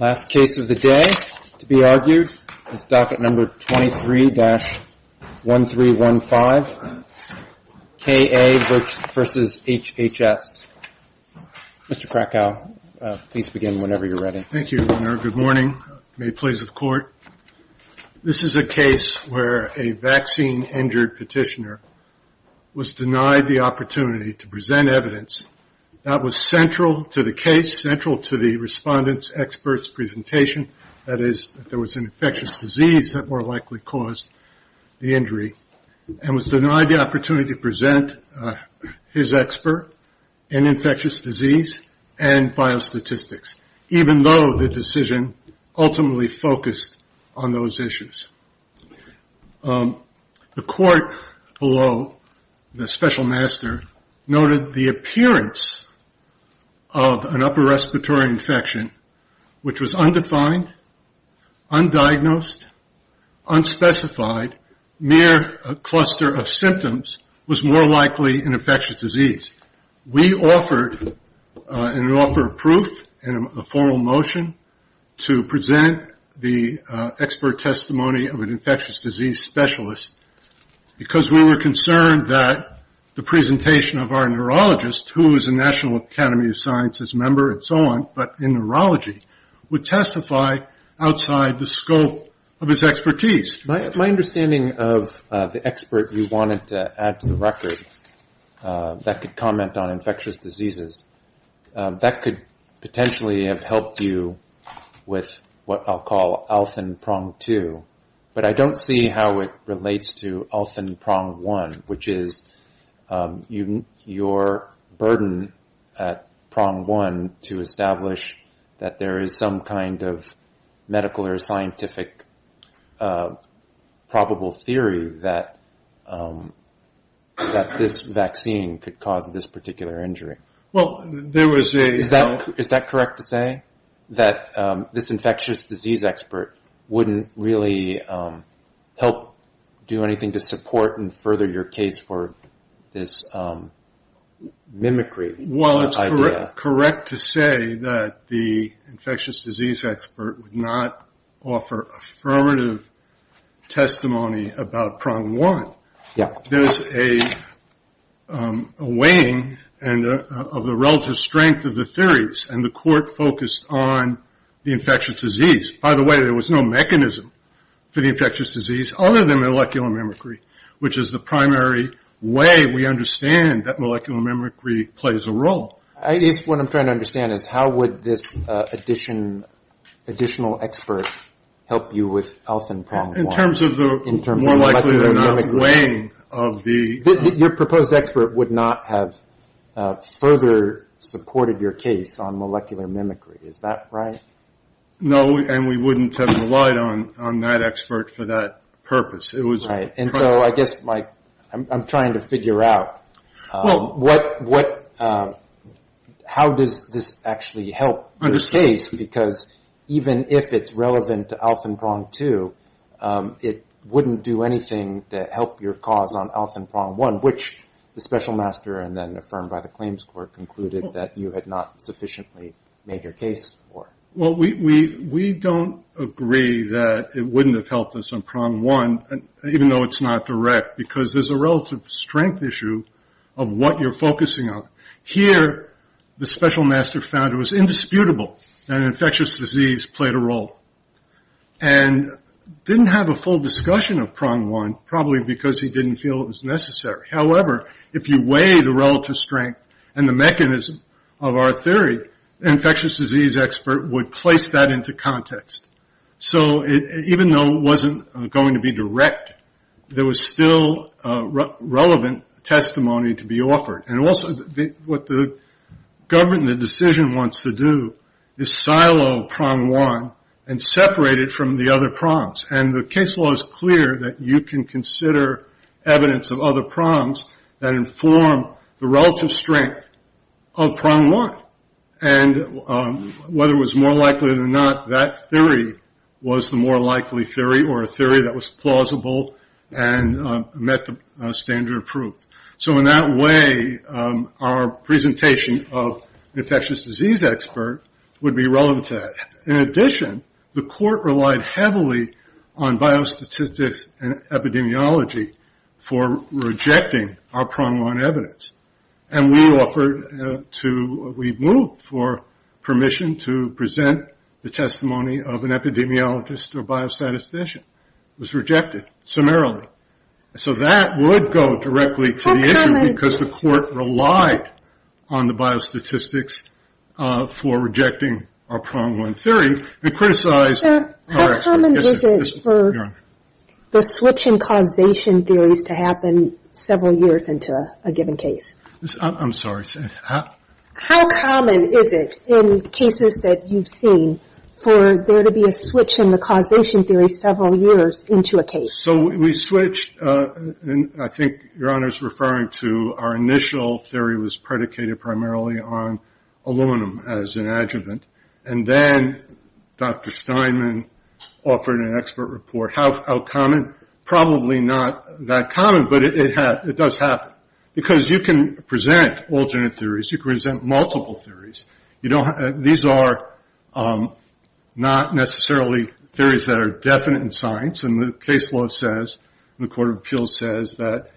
Last case of the day to be argued is docket number 23-1315, K. A. v. HHS. Mr. Krakow, please begin whenever you're ready. Thank you, Governor. Good morning. May it please the Court. This is a case where a vaccine-injured petitioner was denied the opportunity to present evidence that was central to the case, central to the respondent's expert's presentation, that is that there was an infectious disease that more likely caused the injury, and was denied the opportunity to present his expert, an infectious disease, and biostatistics, even though the decision ultimately focused on those issues. The Court below the special master noted the appearance of an upper respiratory infection, which was undefined, undiagnosed, unspecified, mere a cluster of symptoms, was more likely an infectious disease. We offered a proof in a formal motion to present the expert testimony of an infectious disease specialist because we were concerned that the presentation of our neurologist, who is a National Academy of Sciences member and so on, but in neurology, would testify outside the scope of his expertise. My understanding of the expert you wanted to add to the record that could comment on infectious diseases, that could potentially have helped you with what I'll call Alfen Prong 2, but I don't see how it relates to Alfen Prong 1, which is your burden at Prong 1 to establish that there is some kind of medical or scientific probable theory that this vaccine could cause this particular injury. Is that correct to say, that this infectious disease expert wouldn't really help do anything to support and further your case for this mimicry idea? Correct to say that the infectious disease expert would not offer affirmative testimony about Prong 1. Yeah. There's a weighing of the relative strength of the theories, and the court focused on the infectious disease. By the way, there was no mechanism for the infectious disease other than molecular mimicry, which is the primary way we understand that molecular mimicry plays a role. What I'm trying to understand is how would this additional expert help you with Alfen Prong 1? In terms of the molecular mimicry? In terms of the molecular mimicry. Your proposed expert would not have further supported your case on molecular mimicry. Is that right? No, and we wouldn't have relied on that expert for that purpose. I guess I'm trying to figure out how does this actually help your case, because even if it's relevant to Alfen Prong 2, it wouldn't do anything to help your cause on Alfen Prong 1, which the special master and then affirmed by the claims court concluded that you had not sufficiently made your case for. Well, we don't agree that it wouldn't have helped us on Prong 1, even though it's not direct, because there's a relative strength issue of what you're focusing on. Here, the special master found it was indisputable that infectious disease played a role and didn't have a full discussion of Prong 1, probably because he didn't feel it was necessary. However, if you weigh the relative strength and the mechanism of our theory, an infectious disease expert would place that into context. So even though it wasn't going to be direct, there was still relevant testimony to be offered. And also what the government decision wants to do is silo Prong 1 and separate it from the other prongs. And the case law is clear that you can consider evidence of other prongs that inform the relative strength of Prong 1. And whether it was more likely than not, that theory was the more likely theory or a theory that was plausible and met the standard of proof. So in that way, our presentation of infectious disease expert would be relevant to that. In addition, the court relied heavily on biostatistics and epidemiology for rejecting our Prong 1 evidence. And we moved for permission to present the testimony of an epidemiologist or biostatistician. It was rejected summarily. So that would go directly to the issue because the court relied on the biostatistics for rejecting our Prong 1 theory. How common is it for the switch in causation theories to happen several years into a given case? I'm sorry. How common is it in cases that you've seen for there to be a switch in the causation theory several years into a case? So we switched. I think Your Honor is referring to our initial theory was predicated primarily on aluminum as an adjuvant. And then Dr. Steinman offered an expert report. How common? Probably not that common, but it does happen. Because you can present alternate theories. You can present multiple theories. These are not necessarily theories that are definite in science. And the case law says, the Court of Appeals says, that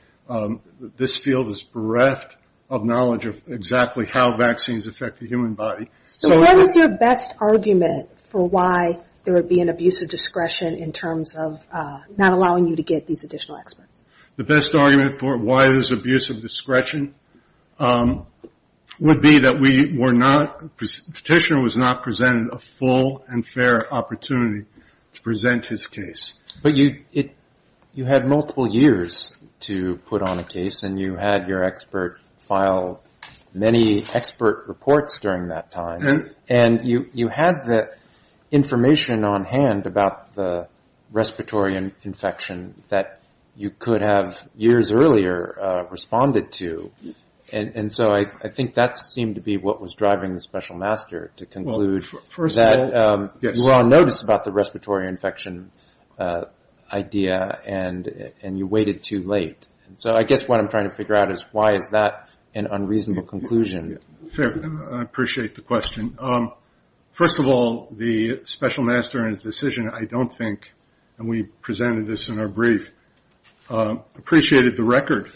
this field is bereft of knowledge of exactly how vaccines affect the human body. So what is your best argument for why there would be an abuse of discretion in terms of not allowing you to get these additional experts? The best argument for why there's abuse of discretion would be that we were not, the Petitioner was not presented a full and fair opportunity to present his case. But you had multiple years to put on a case, and you had your expert file many expert reports during that time. And you had the information on hand about the respiratory infection that you could have years earlier responded to. And so I think that seemed to be what was driving the Special Master, to conclude that you were on notice about the respiratory infection idea, and you waited too late. So I guess what I'm trying to figure out is why is that an unreasonable conclusion? I appreciate the question. First of all, the Special Master in his decision, I don't think, and we presented this in our brief, appreciated the record.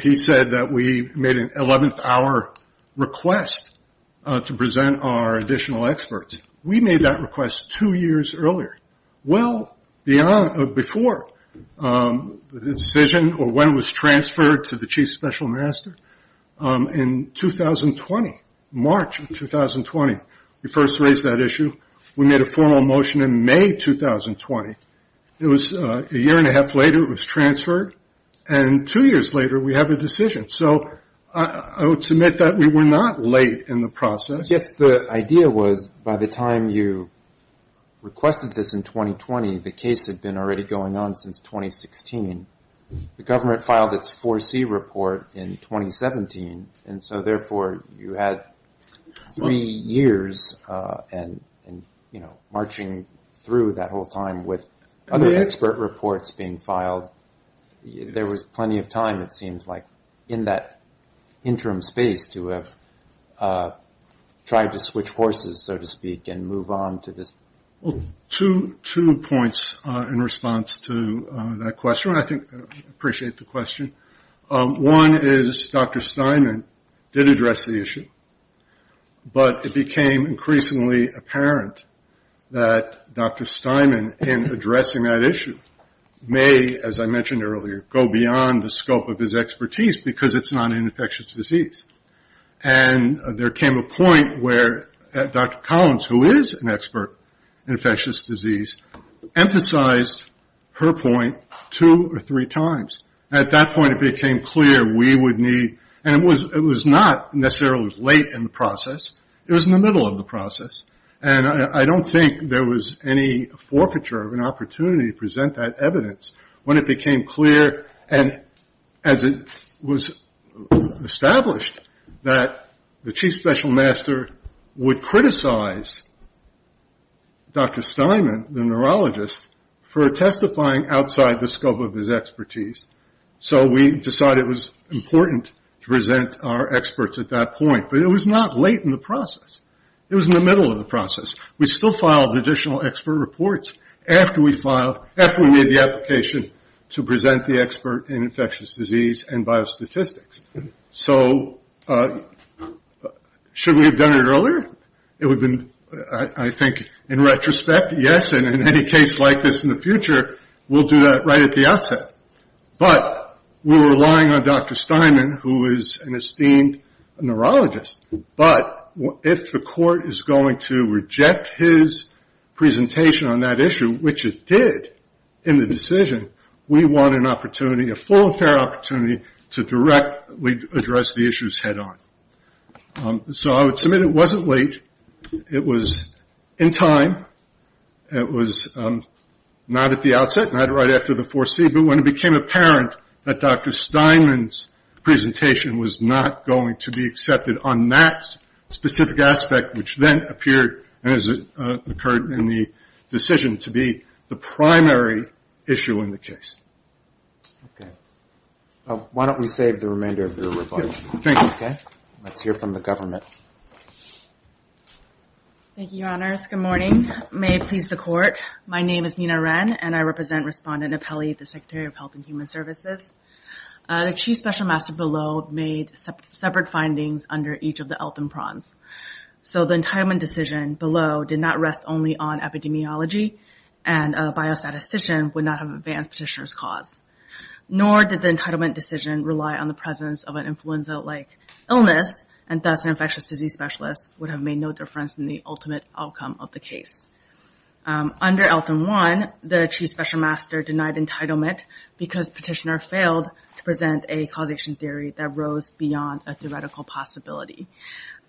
He said that we made an 11th hour request to present our additional experts. We made that request two years earlier. Well, before the decision or when it was transferred to the Chief Special Master, in 2020, March of 2020, we first raised that issue. We made a formal motion in May 2020. It was a year and a half later, it was transferred. And two years later, we have a decision. So I would submit that we were not late in the process. Yes, the idea was by the time you requested this in 2020, the case had been already going on since 2016. The government filed its 4C report in 2017. And so, therefore, you had three years and, you know, marching through that whole time with other expert reports being filed. There was plenty of time, it seems like, in that interim space to have tried to switch horses, so to speak, and move on to this. Well, two points in response to that question. I appreciate the question. One is Dr. Steinman did address the issue. But it became increasingly apparent that Dr. Steinman, in addressing that issue, may, as I mentioned earlier, go beyond the scope of his expertise because it's not an infectious disease. And there came a point where Dr. Collins, who is an expert in infectious disease, emphasized her point two or three times. At that point, it became clear we would need, and it was not necessarily late in the process. It was in the middle of the process. And I don't think there was any forfeiture of an opportunity to present that evidence when it became clear, and as it was established, that the chief special master would criticize Dr. Steinman, the neurologist, for testifying outside the scope of his expertise. So we decided it was important to present our experts at that point. But it was not late in the process. It was in the middle of the process. We still filed additional expert reports after we made the application to present the expert in infectious disease and biostatistics. So should we have done it earlier? It would have been, I think, in retrospect, yes. And in any case like this in the future, we'll do that right at the outset. But we're relying on Dr. Steinman, who is an esteemed neurologist. But if the court is going to reject his presentation on that issue, which it did in the decision, we want an opportunity, a full and fair opportunity, to directly address the issues head on. So I would submit it wasn't late. It was in time. It was not at the outset, not right after the 4C. But when it became apparent that Dr. Steinman's presentation was not going to be accepted on that specific aspect, which then appeared, as it occurred in the decision, to be the primary issue in the case. Okay. Well, why don't we save the remainder of your rebuttal. Let's hear from the government. Thank you, Your Honors. Good morning. May it please the Court. My name is Nina Ren, and I represent Respondent Apelli, the Secretary of Health and Human Services. The Chief Special Master below made separate findings under each of the ELP and PRONs. So the entitlement decision below did not rest only on epidemiology, and a biostatistician would not have advanced Petitioner's cause. Nor did the entitlement decision rely on the presence of an influenza-like illness, and thus an infectious disease specialist would have made no difference in the ultimate outcome of the case. Under ELPIN1, the Chief Special Master denied entitlement because Petitioner failed to present a causation theory that rose beyond a theoretical possibility.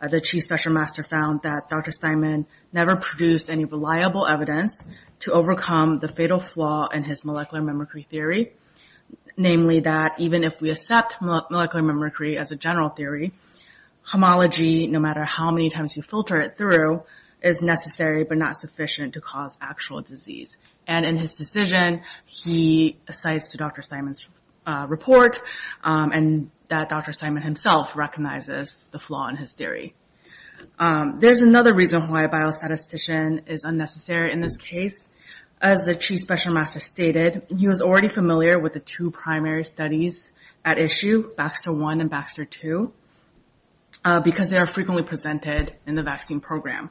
The Chief Special Master found that Dr. Steinman never produced any reliable evidence to overcome the fatal flaw in his molecular mimicry theory, namely that even if we accept molecular mimicry as a general theory, homology, no matter how many times you filter it through, is necessary but not sufficient to cause actual disease. And in his decision, he cites Dr. Steinman's report and that Dr. Steinman himself recognizes the flaw in his theory. There's another reason why a biostatistician is unnecessary in this case. As the Chief Special Master stated, he was already familiar with the two primary studies at issue, Baxter 1 and Baxter 2, because they are frequently presented in the vaccine program.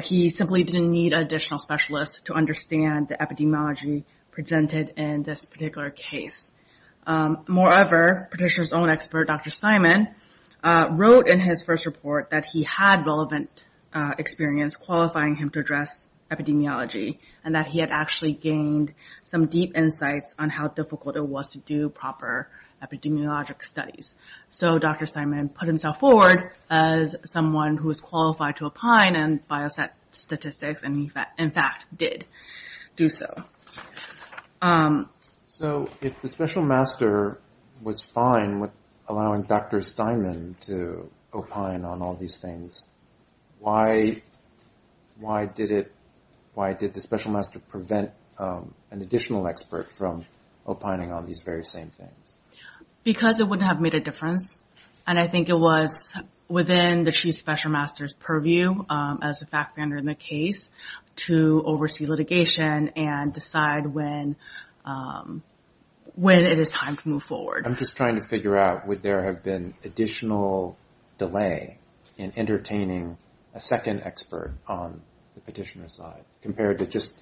He simply didn't need an additional specialist to understand the epidemiology presented in this particular case. Moreover, Petitioner's own expert, Dr. Steinman, wrote in his first report that he had relevant experience qualifying him to address epidemiology and that he had actually gained some deep insights on how difficult it was to do proper epidemiologic studies. So Dr. Steinman put himself forward as someone who is qualified to opine on biostatistics and in fact did do so. So if the Special Master was fine with allowing Dr. Steinman to opine on all these things, why did the Special Master prevent an additional expert from opining on these very same things? Because it wouldn't have made a difference, and I think it was within the Chief Special Master's purview as a fact-finder in the case to oversee litigation and decide when it is time to move forward. I'm just trying to figure out would there have been additional delay in entertaining a second expert on the Petitioner's side compared to just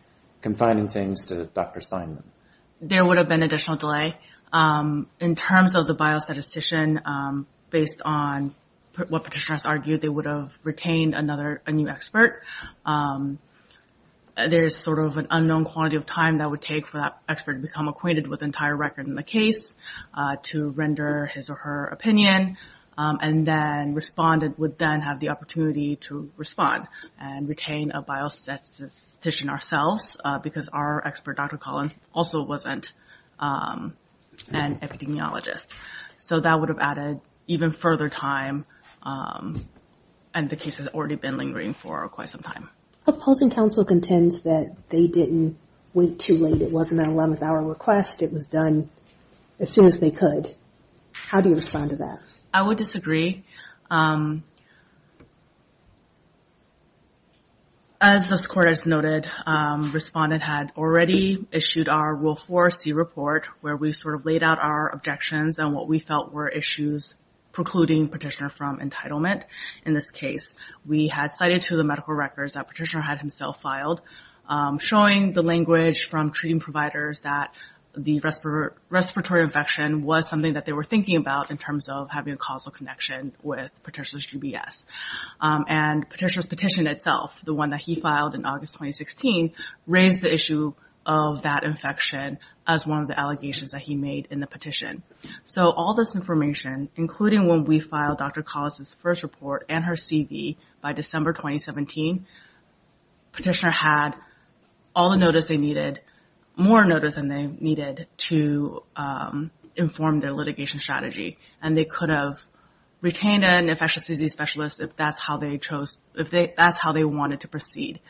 confining things to Dr. Steinman? There would have been additional delay. In terms of the biostatistician, based on what Petitioner has argued, they would have retained a new expert. There is sort of an unknown quantity of time that would take for that expert to become acquainted with the entire record in the case to render his or her opinion, and then respondent would then have the opportunity to respond and retain a biostatistician ourselves because our expert, Dr. Collins, also wasn't an epidemiologist. So that would have added even further time, and the case has already been lingering for quite some time. Opposing counsel contends that they didn't wait too late. It wasn't an 11th hour request. It was done as soon as they could. How do you respond to that? I would disagree. As this Court has noted, respondent had already issued our Rule 4C report where we sort of laid out our objections and what we felt were issues precluding Petitioner from entitlement in this case. We had cited to the medical records that Petitioner had himself filed, showing the language from treating providers that the respiratory infection was something that they were thinking about in terms of having a causal connection with Petitioner's GBS. And Petitioner's petition itself, the one that he filed in August 2016, raised the issue of that infection as one of the allegations that he made in the petition. So all this information, including when we filed Dr. Collins' first report and her CV by December 2017, Petitioner had all the notice they needed, more notice than they needed, to inform their litigation strategy. And they could have retained an infectious disease specialist if that's how they wanted to proceed.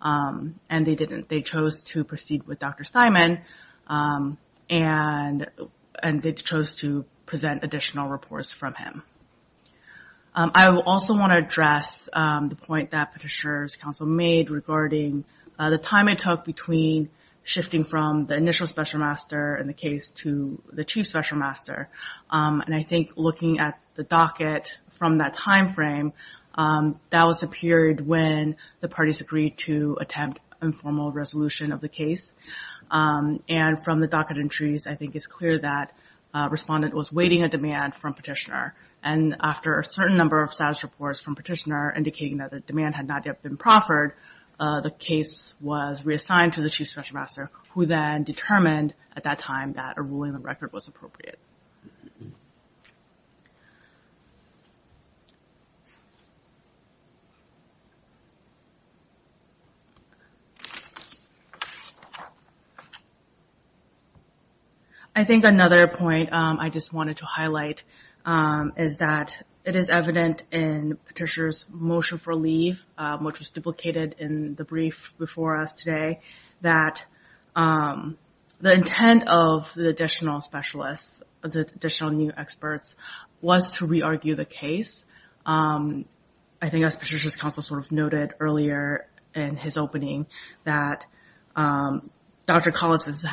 And they didn't. They chose to proceed with Dr. Simon and they chose to present additional reports from him. I also want to address the point that Petitioner's counsel made regarding the time it took between shifting from the initial special master in the case to the chief special master. And I think looking at the docket from that time frame, that was a period when the parties agreed to attempt informal resolution of the case. And from the docket entries, I think it's clear that a respondent was waiting a demand from Petitioner. And after a certain number of status reports from Petitioner indicating that the demand had not yet been proffered, the case was reassigned to the chief special master, who then determined at that time that a ruling on the record was appropriate. I think another point I just wanted to highlight is that it is evident in Petitioner's motion for leave, which was duplicated in the brief before us today, that the intent of the additional specialists, the additional new experts, was to re-argue the case. I think as Petitioner's counsel sort of noted earlier in his opening, that Dr. Collis has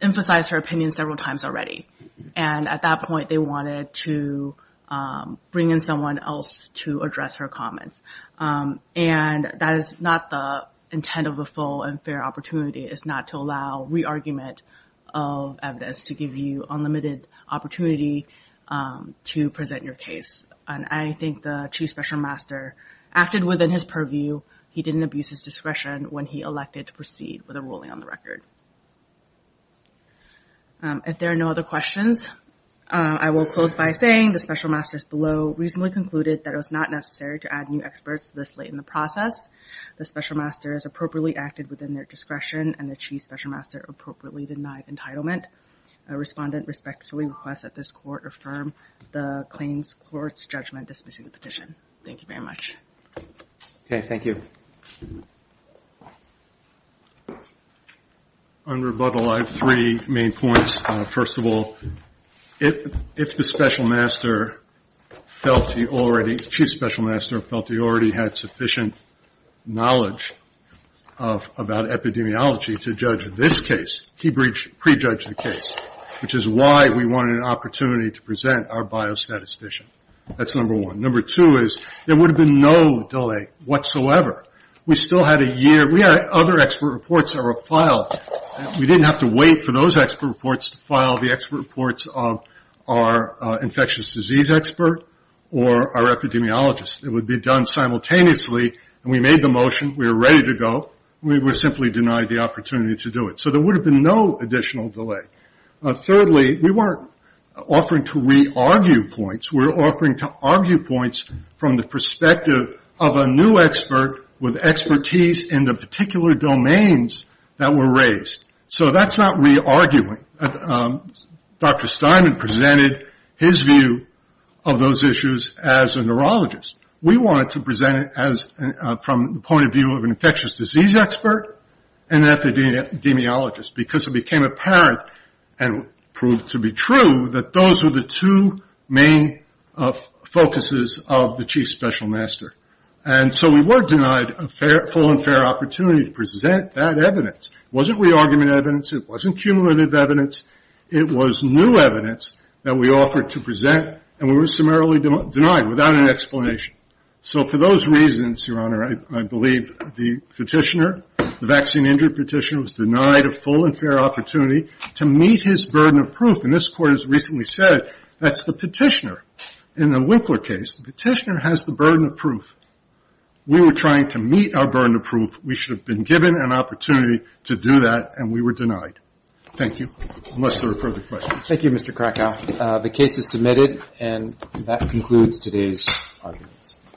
emphasized her opinion several times already. And at that point, they wanted to bring in someone else to address her comments. And that is not the intent of the full and fair opportunity, is not to allow re-argument of evidence to give you unlimited opportunity to present your case. And I think the chief special master acted within his purview. He didn't abuse his discretion when he elected to proceed with a ruling on the record. If there are no other questions, I will close by saying the special masters below reasonably concluded that it was not necessary to add new experts this late in the process. The special masters appropriately acted within their discretion, and the chief special master appropriately denied entitlement. Respondent respectfully requests that this court affirm the claims court's judgment dismissing the petition. Thank you very much. Okay, thank you. On rebuttal, I have three main points. First of all, if the special master felt he already, chief special master felt he already had sufficient knowledge about epidemiology to judge this case, he pre-judged the case, which is why we wanted an opportunity to present our biostatistician. That's number one. Number two is there would have been no delay whatsoever. We still had a year. We had other expert reports that were filed. We didn't have to wait for those expert reports to file the expert reports of our infectious disease expert or our epidemiologist. It would be done simultaneously, and we made the motion. We were ready to go. We were simply denied the opportunity to do it. So there would have been no additional delay. Thirdly, we weren't offering to re-argue points. We were offering to argue points from the perspective of a new expert with expertise in the particular domains that were raised. So that's not re-arguing. Dr. Steinman presented his view of those issues as a neurologist. We wanted to present it from the point of view of an infectious disease expert and an epidemiologist because it became apparent and proved to be true that those were the two main focuses of the chief special master. And so we were denied a full and fair opportunity to present that evidence. It wasn't re-argument evidence. It wasn't cumulative evidence. It was new evidence that we offered to present, and we were summarily denied without an explanation. So for those reasons, Your Honor, I believe the petitioner, the vaccine-injured petitioner, was denied a full and fair opportunity to meet his burden of proof. And this Court has recently said that's the petitioner. In the Winkler case, the petitioner has the burden of proof. We were trying to meet our burden of proof. We should have been given an opportunity to do that, and we were denied. Thank you. Unless there are further questions. Thank you, Mr. Krakow. The case is submitted, and that concludes today's arguments.